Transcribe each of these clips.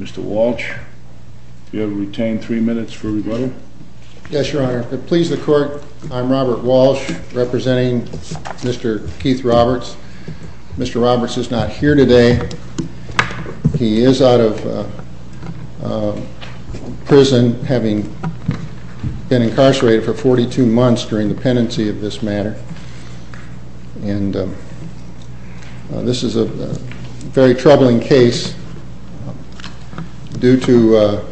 Mr. Walsh, do you have to retain three minutes for rebuttal? Yes, Your Honor. Please the court, I'm Robert Walsh representing Mr. Keith Roberts. Mr. Roberts is not here today. He is out of prison having been incarcerated for 42 months during the pendency of this matter. And this is a very troubling case due to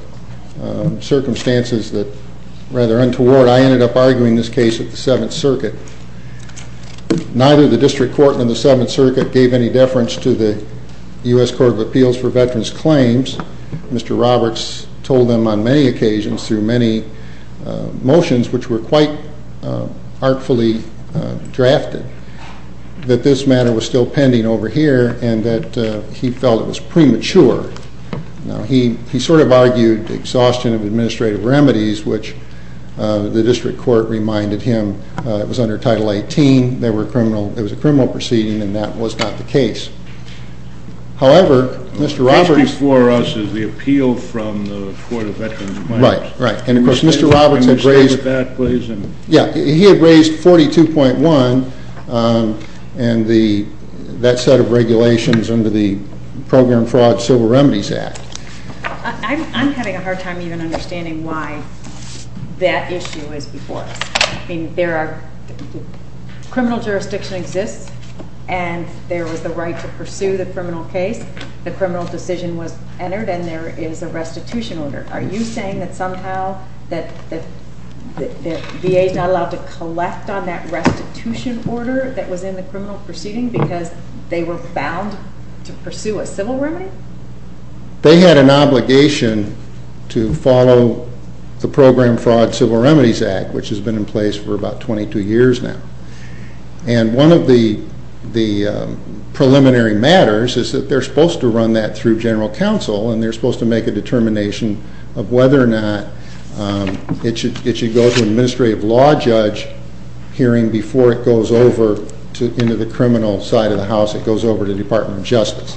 circumstances that rather untoward I ended up arguing this case at the Seventh Circuit. Neither the District Court nor the Seventh Circuit gave any deference to the U.S. Court of Appeals for Veterans Claims. Mr. Roberts told them on many occasions through many motions which were quite artfully drafted that this matter was still pending over here and that he felt it was premature. He sort of argued exhaustion of administrative remedies which the District Court reminded him was under Title 18. It was a criminal proceeding and that was not the case. However, Mr. Roberts... This before us is the appeal from the Court of Veterans Claims. Right, right. And of course Mr. Roberts had raised... Can you state that please? Yeah, he had raised 42.1 and that set of regulations under the Program Fraud Civil Remedies Act. I'm having a hard time even understanding why that issue is before us. I mean there are... criminal jurisdiction exists and there was the right to pursue the criminal case. The criminal decision was entered and there is a restitution order. Are you saying that somehow that VA is not allowed to collect on that restitution order that was in the criminal proceeding because they were bound to pursue a civil remedy? They had an obligation to follow the Program Fraud Civil Remedies Act which has been in place for about 22 years now. And one of the preliminary matters is that they're supposed to run that through General Counsel and they're supposed to make a determination of whether or not it should go to an administrative law judge hearing before it goes over into the criminal side of the house. It goes over to the Department of Justice.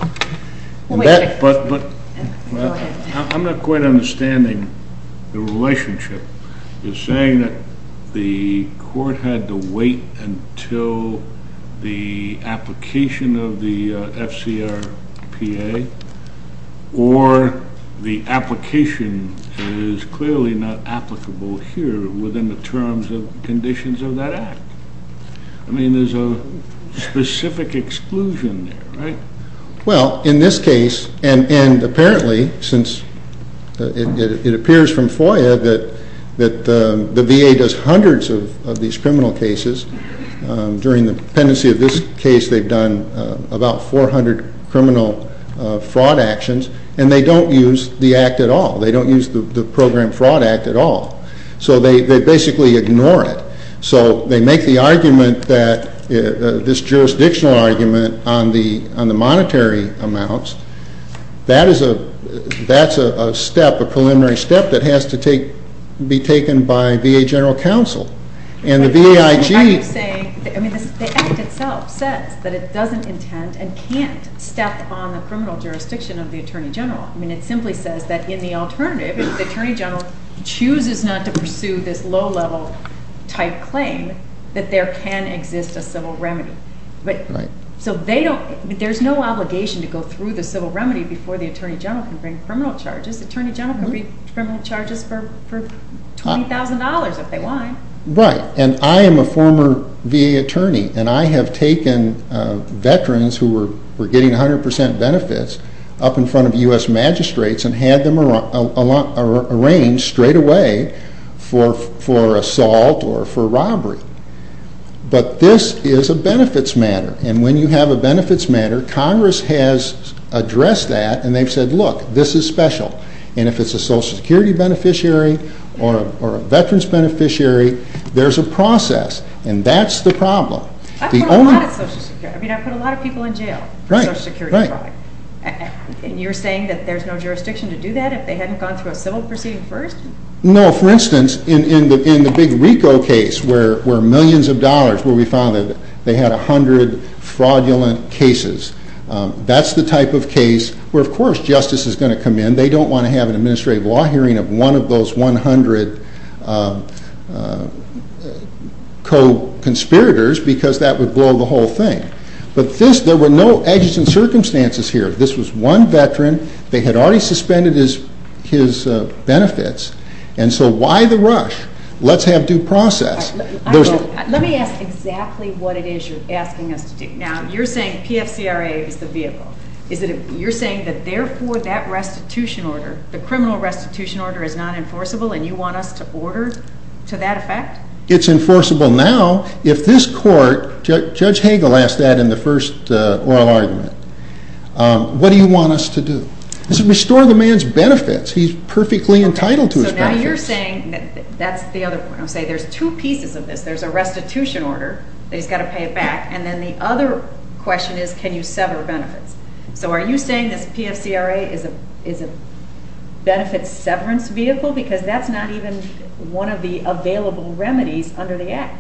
But I'm not quite understanding the relationship. You're saying that the court had to wait until the application of the FCRPA or the application is clearly not applicable here within the terms and conditions of that act. I mean there's a specific exclusion there, right? Well, in this case and apparently since it appears from FOIA that the VA does hundreds of these criminal cases. During the pendency of this case they've done about 400 criminal fraud actions and they don't use the act at all. They don't use the Program Fraud Act at all. So they basically ignore it. So they make the argument that this jurisdictional argument on the monetary amounts, that's a step, a preliminary step that has to be taken by VA General Counsel. And the VA IG... I'm saying, I mean the act itself says that it doesn't intend and can't step on the criminal jurisdiction of the Attorney General. I mean it simply says that in the alternative the Attorney General chooses not to pursue this low-level type claim that there can exist a civil remedy. So they don't, there's no obligation to go through the civil remedy before the Attorney General can bring criminal charges. The Attorney General can bring criminal charges for $20,000 if they want. Right. And I am a former VA attorney and I have taken veterans who were getting 100% benefits up in front of U.S. magistrates and had them arranged straight away for assault or for robbery. But this is a benefits matter and when you have a benefits matter, Congress has addressed that and they've said, look, this is special. And if it's a Social Security beneficiary or a veterans beneficiary, there's a process. And that's the problem. I've put a lot of Social Security, I mean I've put a lot of people in jail for Social Security fraud. And you're saying that there's no jurisdiction to do that if they hadn't gone through a civil proceeding first? No, for instance, in the big RICO case where millions of dollars, where we found that they had 100 fraudulent cases. That's the type of case where, of course, justice is going to come in. They don't want to have an administrative law hearing of one of those 100 co-conspirators because that would blow the whole thing. But this, there were no edges and circumstances here. This was one veteran. They had already suspended his benefits. And so why the rush? Let's have due process. Let me ask exactly what it is you're asking us to do. Now, you're saying PFCRA is the vehicle. You're saying that therefore that restitution order, the criminal restitution order, is not enforceable and you want us to order to that effect? It's enforceable now if this court, Judge Hagel asked that in the first oral argument. What do you want us to do? Restore the man's benefits. He's perfectly entitled to his benefits. So now you're saying that's the other point. I'm saying there's two pieces of this. There's a restitution order that he's got to pay it back, and then the other question is can you sever benefits? So are you saying this PFCRA is a benefits severance vehicle? Because that's not even one of the available remedies under the Act.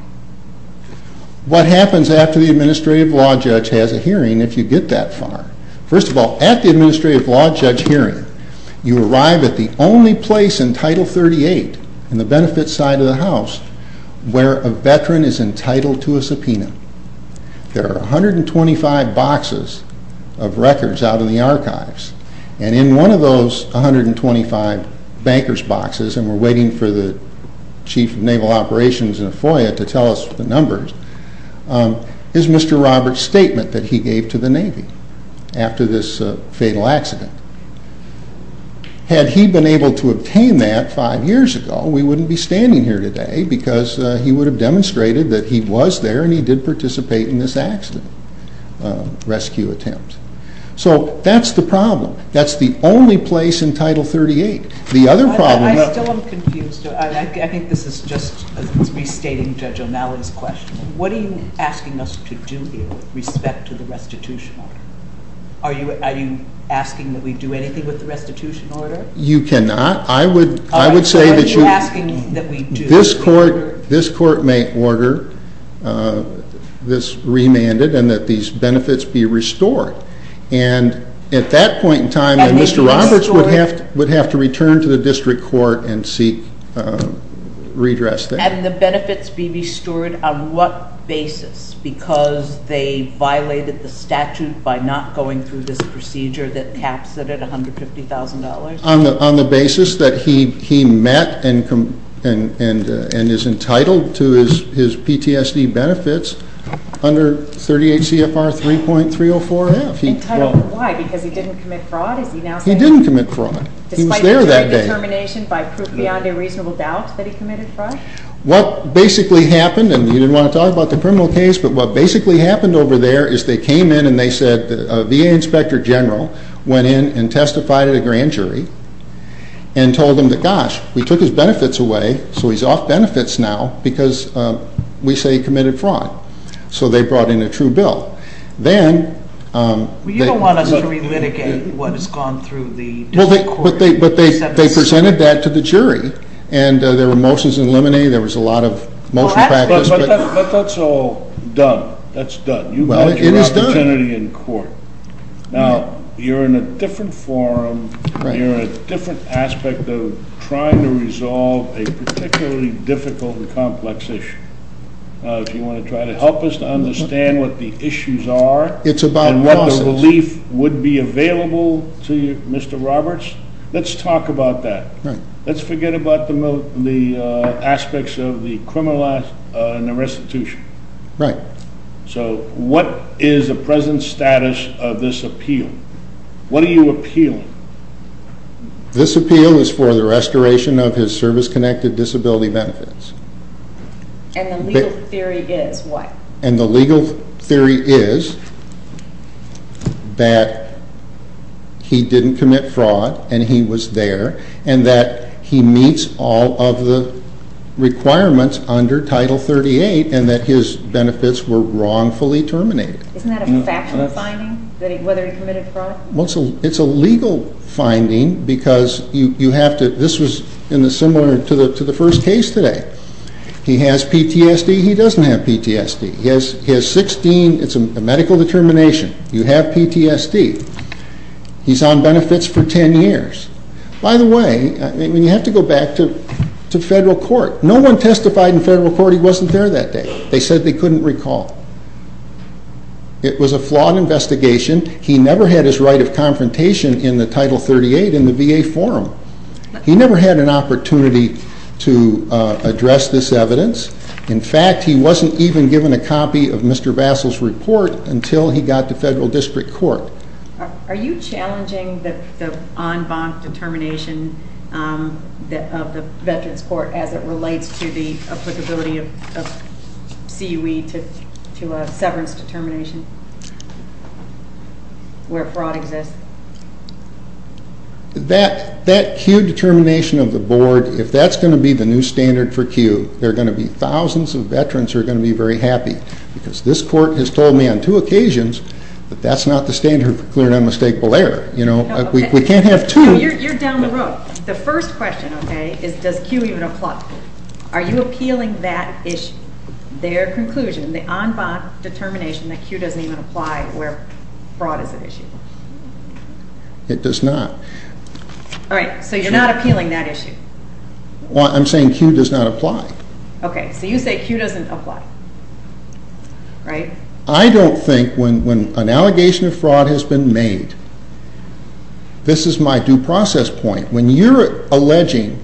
What happens after the administrative law judge has a hearing if you get that far? First of all, at the administrative law judge hearing, you arrive at the only place in Title 38 in the benefits side of the House where a veteran is entitled to a subpoena. There are 125 boxes of records out in the archives, and in one of those 125 bankers boxes, and we're waiting for the chief of naval operations in a FOIA to tell us the numbers, is Mr. Roberts' statement that he gave to the Navy. After this fatal accident. Had he been able to obtain that five years ago, we wouldn't be standing here today, because he would have demonstrated that he was there and he did participate in this accident rescue attempt. So that's the problem. That's the only place in Title 38. The other problem... I still am confused. I think this is just restating Judge O'Malley's question. What are you asking us to do here with respect to the restitution order? Are you asking that we do anything with the restitution order? You cannot. I would say that this court may order this remanded and that these benefits be restored. And at that point in time, Mr. Roberts would have to return to the district court and seek redress there. And the benefits be restored on what basis? Because they violated the statute by not going through this procedure that caps it at $150,000? On the basis that he met and is entitled to his PTSD benefits under 38 CFR 3.304F. Entitled, why? Because he didn't commit fraud? He didn't commit fraud. Despite the jury determination by proof beyond a reasonable doubt that he committed fraud? What basically happened, and you didn't want to talk about the criminal case, but what basically happened over there is they came in and they said a VA inspector general went in and testified at a grand jury and told them that, gosh, we took his benefits away, so he's off benefits now because we say he committed fraud. So they brought in a true bill. Well, you don't want us to relitigate what has gone through the district court. But they presented that to the jury, and there were motions in limine. There was a lot of motion practice. But that's all done. That's done. You've got your opportunity in court. Now, you're in a different forum. You're in a different aspect of trying to resolve a particularly difficult and complex issue. If you want to try to help us to understand what the issues are and what the relief would be available to you, Mr. Roberts, let's talk about that. Let's forget about the aspects of the criminalized and the restitution. Right. So what is the present status of this appeal? What are you appealing? This appeal is for the restoration of his service-connected disability benefits. And the legal theory is what? And that he meets all of the requirements under Title 38 and that his benefits were wrongfully terminated. Isn't that a factual finding, whether he committed fraud? It's a legal finding because you have to ‑‑this was similar to the first case today. He has PTSD. He doesn't have PTSD. He has 16. It's a medical determination. You have PTSD. He's on benefits for 10 years. By the way, you have to go back to federal court. No one testified in federal court he wasn't there that day. They said they couldn't recall. It was a flawed investigation. He never had his right of confrontation in the Title 38 in the VA forum. He never had an opportunity to address this evidence. In fact, he wasn't even given a copy of Mr. Vassell's report until he got to federal district court. Are you challenging the en banc determination of the Veterans Court as it relates to the applicability of CUE to a severance determination where fraud exists? That CUE determination of the board, if that's going to be the new standard for CUE, there are going to be thousands of veterans who are going to be very happy because this court has told me on two occasions that that's not the standard for clear and unmistakable error. We can't have two. You're down the road. The first question, okay, is does CUE even apply? Are you appealing that issue, their conclusion, the en banc determination that CUE doesn't even apply where fraud is an issue? It does not. All right, so you're not appealing that issue. Well, I'm saying CUE does not apply. Okay, so you say CUE doesn't apply, right? I don't think when an allegation of fraud has been made, this is my due process point. When you're alleging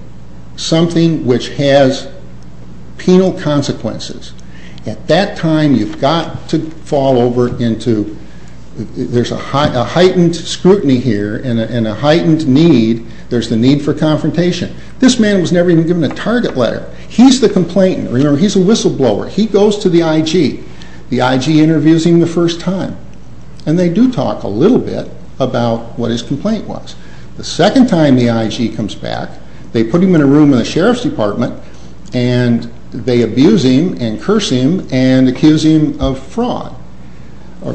something which has penal consequences, at that time you've got to fall over into there's a heightened scrutiny here and a heightened need. There's the need for confrontation. This man was never even given a target letter. He's the complainant. Remember, he's a whistleblower. He goes to the IG. The IG interviews him the first time, and they do talk a little bit about what his complaint was. The second time the IG comes back, they put him in a room in the sheriff's department, and they abuse him and curse him and accuse him of fraud.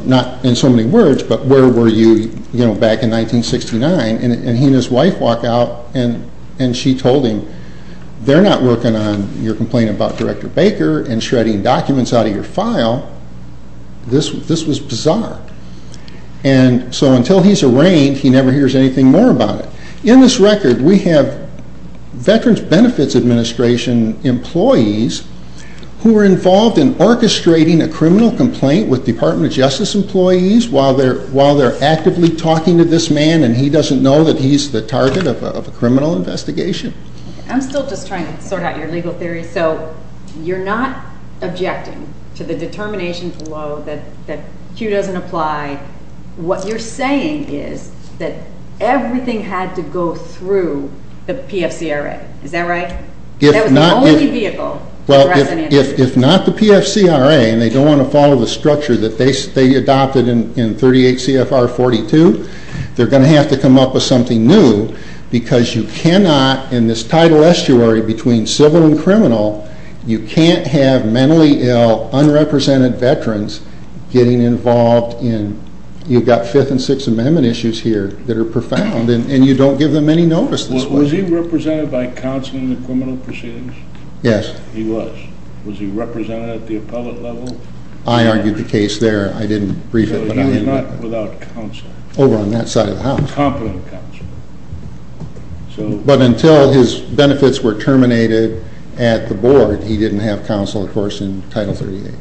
Not in so many words, but where were you back in 1969? And he and his wife walk out, and she told him, they're not working on your complaint about Director Baker and shredding documents out of your file. This was bizarre. And so until he's arraigned, he never hears anything more about it. In this record, we have Veterans Benefits Administration employees who are involved in orchestrating a criminal complaint with Department of Justice employees while they're actively talking to this man, and he doesn't know that he's the target of a criminal investigation. I'm still just trying to sort out your legal theory, so you're not objecting to the determination below that Q doesn't apply. What you're saying is that everything had to go through the PFCRA. Is that right? That was the only vehicle. Well, if not the PFCRA, and they don't want to follow the structure that they adopted in 38 CFR 42, they're going to have to come up with something new because you cannot, in this tidal estuary between civil and criminal, you can't have mentally ill, unrepresented Veterans getting involved in, you've got Fifth and Sixth Amendment issues here that are profound, and you don't give them any notice this way. Was he represented by counsel in the criminal proceedings? Yes. He was. Was he represented at the appellate level? I argued the case there. I didn't brief it. You were not without counsel. Over on that side of the house. Competent counsel. But until his benefits were terminated at the board, he didn't have counsel, of course, in Title 38.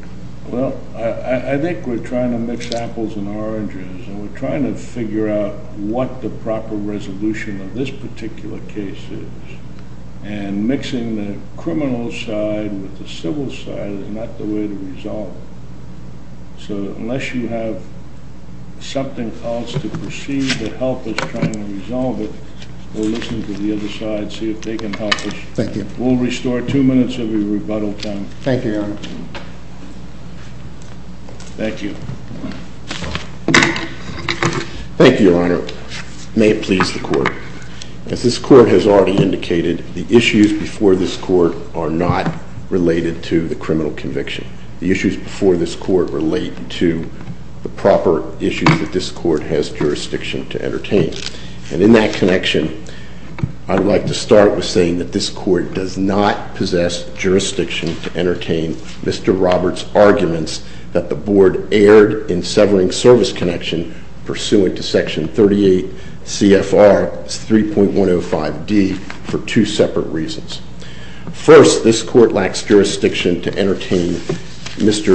Well, I think we're trying to mix apples and oranges, and we're trying to figure out what the proper resolution of this particular case is, and mixing the criminal side with the civil side is not the way to resolve it. So unless you have something else to proceed to help us try and resolve it, we'll listen to the other side, see if they can help us. Thank you. We'll restore two minutes of your rebuttal time. Thank you, Your Honor. Thank you. Thank you, Your Honor. May it please the Court. As this Court has already indicated, the issues before this Court are not related to the criminal conviction. The issues before this Court relate to the proper issues that this Court has jurisdiction to entertain. And in that connection, I'd like to start with saying that this Court does not possess jurisdiction to entertain Mr. Roberts' arguments that the board erred in severing service connection pursuant to Section 38 CFR 3.105D for two separate reasons. First, this Court lacks jurisdiction to entertain Mr.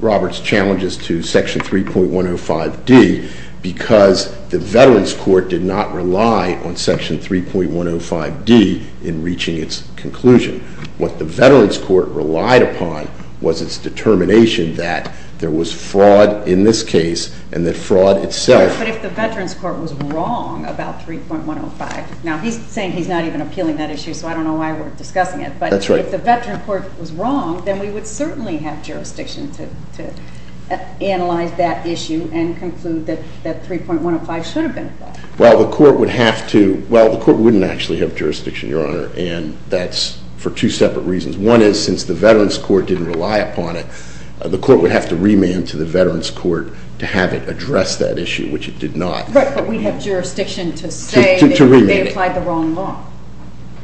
Roberts' challenges to Section 3.105D because the Veterans Court did not rely on Section 3.105D in reaching its conclusion. What the Veterans Court relied upon was its determination that there was fraud in this case and that fraud itself… That's right. …so I don't know why we're discussing it. But if the Veterans Court was wrong, then we would certainly have jurisdiction to analyze that issue and conclude that 3.105 should have been applied. Well, the Court would have to – well, the Court wouldn't actually have jurisdiction, Your Honor, and that's for two separate reasons. One is, since the Veterans Court didn't rely upon it, the Court would have to remand to the Veterans Court to have it address that issue, which it did not. Right, but we have jurisdiction to say they applied the wrong law.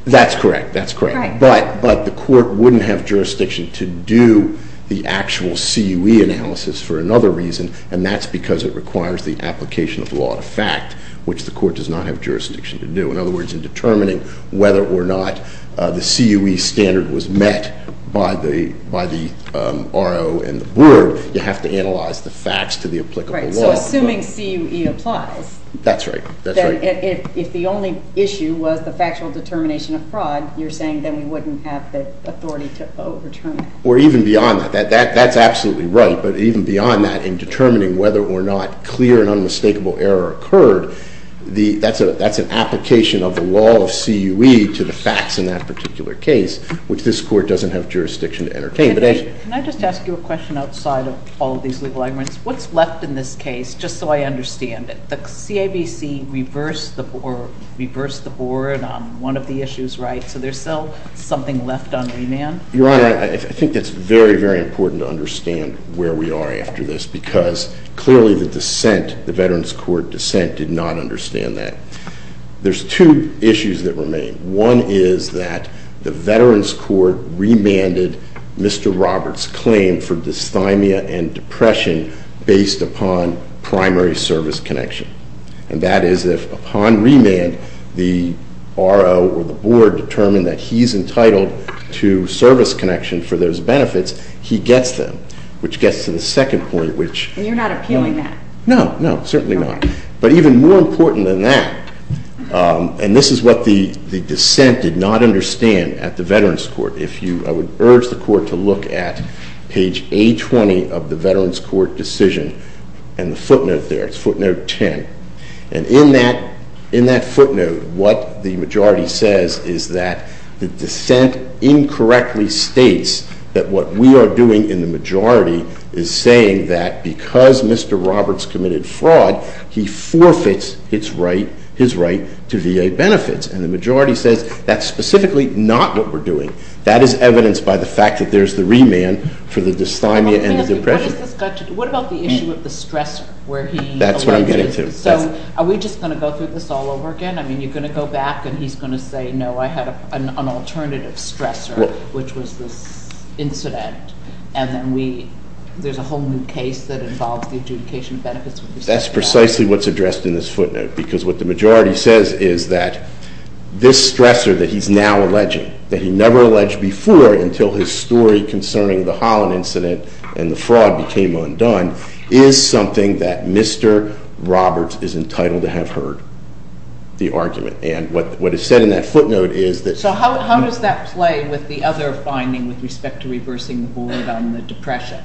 That's correct. That's correct. Right. But the Court wouldn't have jurisdiction to do the actual CUE analysis for another reason, and that's because it requires the application of law to fact, which the Court does not have jurisdiction to do. In other words, in determining whether or not the CUE standard was met by the RO and the board, you have to analyze the facts to the applicable law. Right, so assuming CUE applies… That's right. If the only issue was the factual determination of fraud, you're saying then we wouldn't have the authority to overturn it. Or even beyond that. That's absolutely right, but even beyond that, in determining whether or not clear and unmistakable error occurred, that's an application of the law of CUE to the facts in that particular case, which this Court doesn't have jurisdiction to entertain. Can I just ask you a question outside of all of these legal arguments? What's left in this case, just so I understand it? The CABC reversed the board on one of the issues, right? So there's still something left on remand? Your Honor, I think it's very, very important to understand where we are after this, because clearly the dissent, the Veterans Court dissent, did not understand that. There's two issues that remain. One is that the Veterans Court remanded Mr. Roberts' claim for dysthymia and depression based upon primary service connection. And that is if, upon remand, the RO or the board determined that he's entitled to service connection for those benefits, he gets them. Which gets to the second point, which… And you're not appealing that? No, no, certainly not. Okay. But even more important than that, and this is what the dissent did not understand at the Veterans Court. I would urge the Court to look at page A20 of the Veterans Court decision and the footnote there. It's footnote 10. And in that footnote, what the majority says is that the dissent incorrectly states that what we are doing in the majority is saying that because Mr. Roberts committed fraud, he forfeits his right to VA benefits. And the majority says that's specifically not what we're doing. That is evidenced by the fact that there's the remand for the dysthymia and the depression. What about the issue of the stressor? That's what I'm getting to. So are we just going to go through this all over again? I mean, you're going to go back and he's going to say, no, I had an alternative stressor, which was this incident. And then there's a whole new case that involves the adjudication of benefits. That's precisely what's addressed in this footnote, because what the majority says is that this stressor that he's now alleging, that he never alleged before until his story concerning the Holland incident and the fraud became undone, is something that Mr. Roberts is entitled to have heard the argument. And what is said in that footnote is that- So how does that play with the other finding with respect to reversing the board on the depression?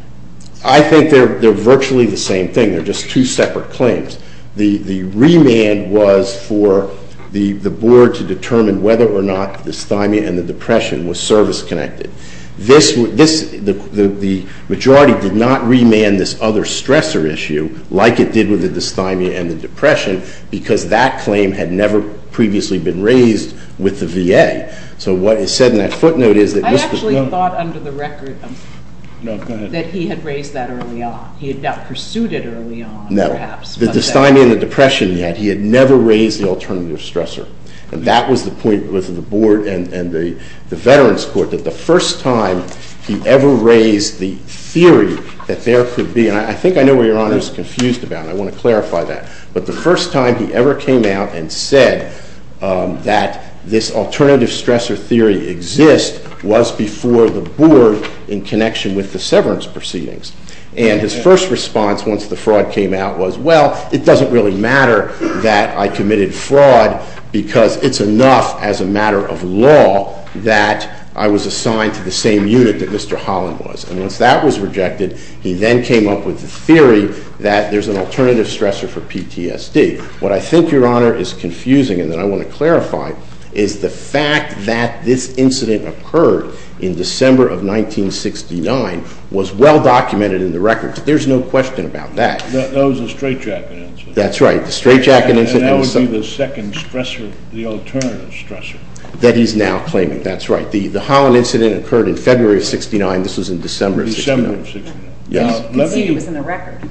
I think they're virtually the same thing. They're just two separate claims. The remand was for the board to determine whether or not dysthymia and the depression was service-connected. The majority did not remand this other stressor issue like it did with the dysthymia and the depression, because that claim had never previously been raised with the VA. So what is said in that footnote is that- I actually thought under the record that he had raised that early on. He had not pursued it early on, perhaps. No. The dysthymia and the depression he had, he had never raised the alternative stressor. And that was the point with the board and the Veterans Court, that the first time he ever raised the theory that there could be, and I think I know where Your Honor is confused about, and I want to clarify that. But the first time he ever came out and said that this alternative stressor theory exists was before the board in connection with the severance proceedings. And his first response once the fraud came out was, well, it doesn't really matter that I committed fraud because it's enough as a matter of law that I was assigned to the same unit that Mr. Holland was. And once that was rejected, he then came up with the theory that there's an alternative stressor for PTSD. What I think, Your Honor, is confusing, and that I want to clarify, is the fact that this incident occurred in December of 1969 was well documented in the records. There's no question about that. That was the straightjacket incident. That's right. The straightjacket incident- And that would be the second stressor, the alternative stressor. That he's now claiming. That's right. The Holland incident occurred in February of 69. This was in December of 69. December of 69. Yes. You can see it was in the record.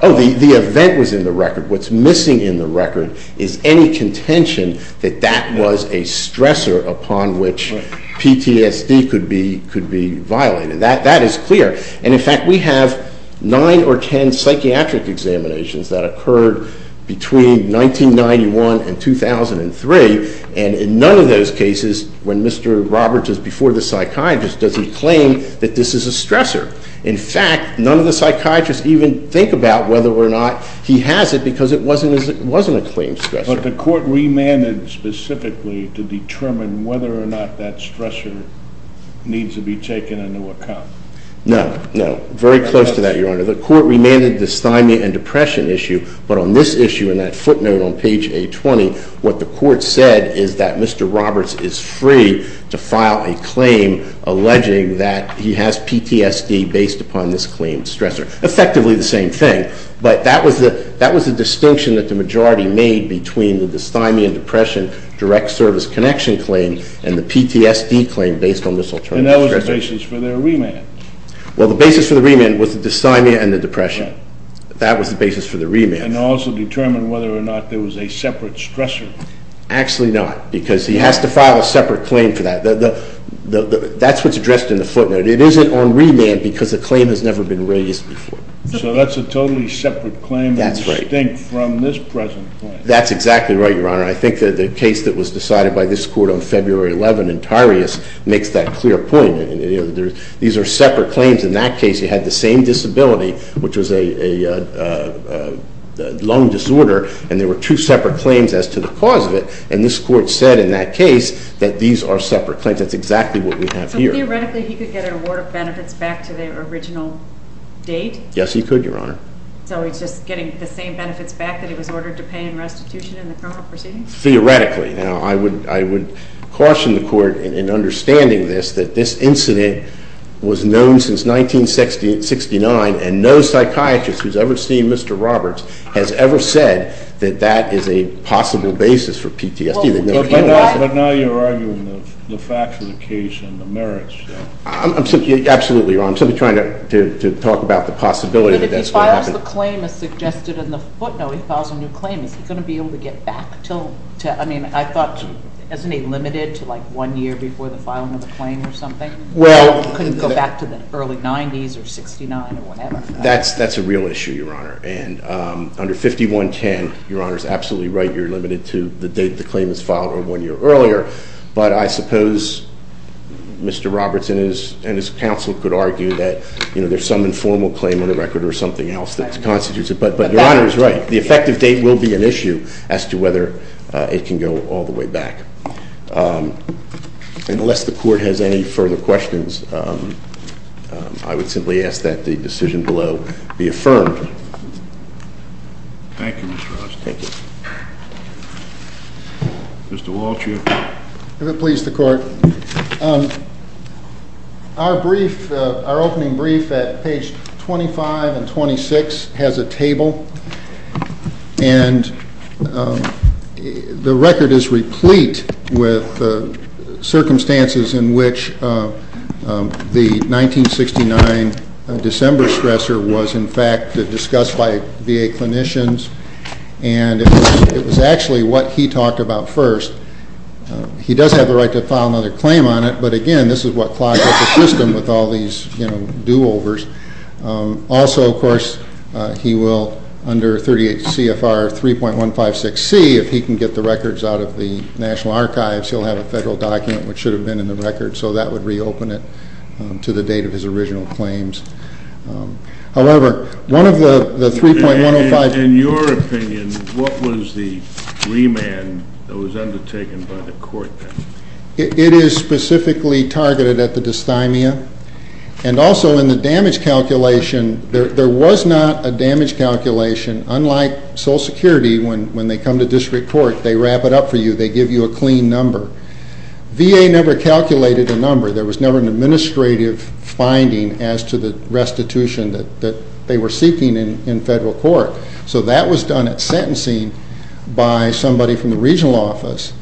Oh, the event was in the record. What's missing in the record is any contention that that was a stressor upon which PTSD could be violated. That is clear. And, in fact, we have 9 or 10 psychiatric examinations that occurred between 1991 and 2003. And in none of those cases, when Mr. Roberts is before the psychiatrist, does he claim that this is a stressor. In fact, none of the psychiatrists even think about whether or not he has it because it wasn't a claimed stressor. But the court remanded specifically to determine whether or not that stressor needs to be taken into account. No. No. Very close to that, Your Honor. The court remanded the dysthymia and depression issue, but on this issue and that footnote on page A20, what the court said is that Mr. Roberts is free to file a claim alleging that he has PTSD based upon this claimed stressor. Effectively, the same thing. But that was the distinction that the majority made between the dysthymia and depression direct service connection claim and the PTSD claim based on this alternative stressor. And that was the basis for their remand. Well, the basis for the remand was the dysthymia and the depression. That was the basis for the remand. And also determine whether or not there was a separate stressor. Actually not, because he has to file a separate claim for that. That's what's addressed in the footnote. It isn't on remand because the claim has never been raised before. So that's a totally separate claim. That's right. That's distinct from this present claim. That's exactly right, Your Honor. I think that the case that was decided by this court on February 11 in Tarius makes that clear point. These are separate claims. In that case, he had the same disability, which was a lung disorder. And there were two separate claims as to the cause of it. And this court said in that case that these are separate claims. That's exactly what we have here. Theoretically, he could get an award of benefits back to the original date? Yes, he could, Your Honor. So he's just getting the same benefits back that he was ordered to pay in restitution in the criminal proceedings? Theoretically. Now, I would caution the court in understanding this, that this incident was known since 1969, and no psychiatrist who's ever seen Mr. Roberts has ever said that that is a possible basis for PTSD. But now you're arguing the facts of the case and the merits. Absolutely, Your Honor. I'm simply trying to talk about the possibility that that's what happened. But if he files the claim as suggested in the footnote, he files a new claim, is he going to be able to get back to, I mean, I thought, isn't he limited to like one year before the filing of the claim or something? Well. Couldn't go back to the early 90s or 69 or whatever. That's a real issue, Your Honor. And under 5110, Your Honor's absolutely right, you're limited to the date the claim was filed or one year earlier. But I suppose Mr. Roberts and his counsel could argue that, you know, there's some informal claim on the record or something else that constitutes it. But Your Honor is right. The effective date will be an issue as to whether it can go all the way back. And unless the court has any further questions, I would simply ask that the decision below be affirmed. Thank you, Mr. Roberts. Thank you. Mr. Walsh. If it please the court, our brief, our opening brief at page 25 and 26 has a table. And the record is replete with circumstances in which the 1969 December stressor was, in fact, discussed by VA clinicians. And it was actually what he talked about first. He does have the right to file another claim on it. But, again, this is what clogged up the system with all these, you know, do-overs. Also, of course, he will, under 38 CFR 3.156C, if he can get the records out of the National Archives, he'll have a federal document which should have been in the record. So that would reopen it to the date of his original claims. However, one of the 3.155. In your opinion, what was the remand that was undertaken by the court then? It is specifically targeted at the dysthymia. And also in the damage calculation, there was not a damage calculation, unlike Social Security, when they come to district court, they wrap it up for you, they give you a clean number. VA never calculated a number. There was never an administrative finding as to the restitution that they were seeking in federal court. So that was done at sentencing by somebody from the regional office.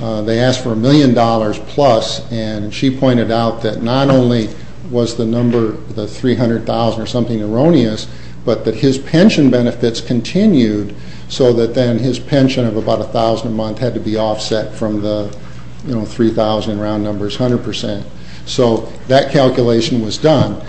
They asked for a million dollars plus, and she pointed out that not only was the number, the $300,000 or something erroneous, but that his pension benefits continued so that then his pension of about $1,000 a month had to be offset from the, you know, $3,000 round number is 100%. So that calculation was done.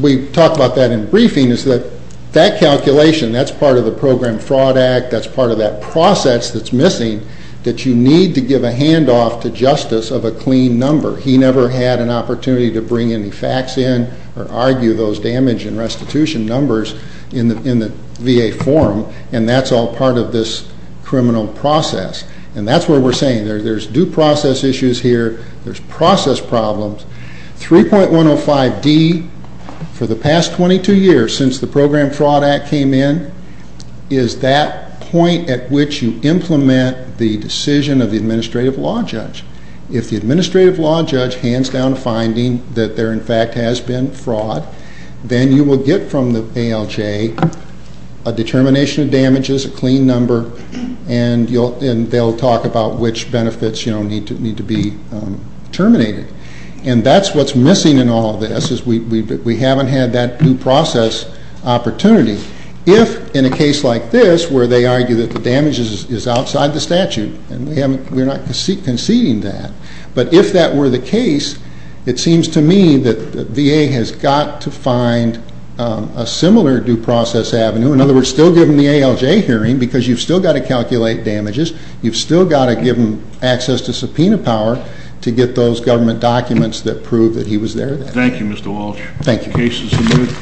We talked about that in briefing, is that that calculation, that's part of the Program Fraud Act, that's part of that process that's missing, that you need to give a handoff to justice of a clean number. He never had an opportunity to bring any facts in or argue those damage and restitution numbers in the VA forum, and that's all part of this criminal process. And that's where we're saying there's due process issues here, there's process problems. 3.105D, for the past 22 years since the Program Fraud Act came in, is that point at which you implement the decision of the administrative law judge. If the administrative law judge hands down a finding that there, in fact, has been fraud, then you will get from the ALJ a determination of damages, a clean number, and they'll talk about which benefits, you know, need to be terminated. And that's what's missing in all of this, is we haven't had that due process opportunity. If, in a case like this, where they argue that the damage is outside the statute, and we're not conceding that, but if that were the case, it seems to me that the VA has got to find a similar due process avenue, in other words, still give them the ALJ hearing, because you've still got to calculate damages, you've still got to give them access to subpoena power to get those government documents that prove that he was there. Thank you, Mr. Walsh. Thank you. Case is admitted.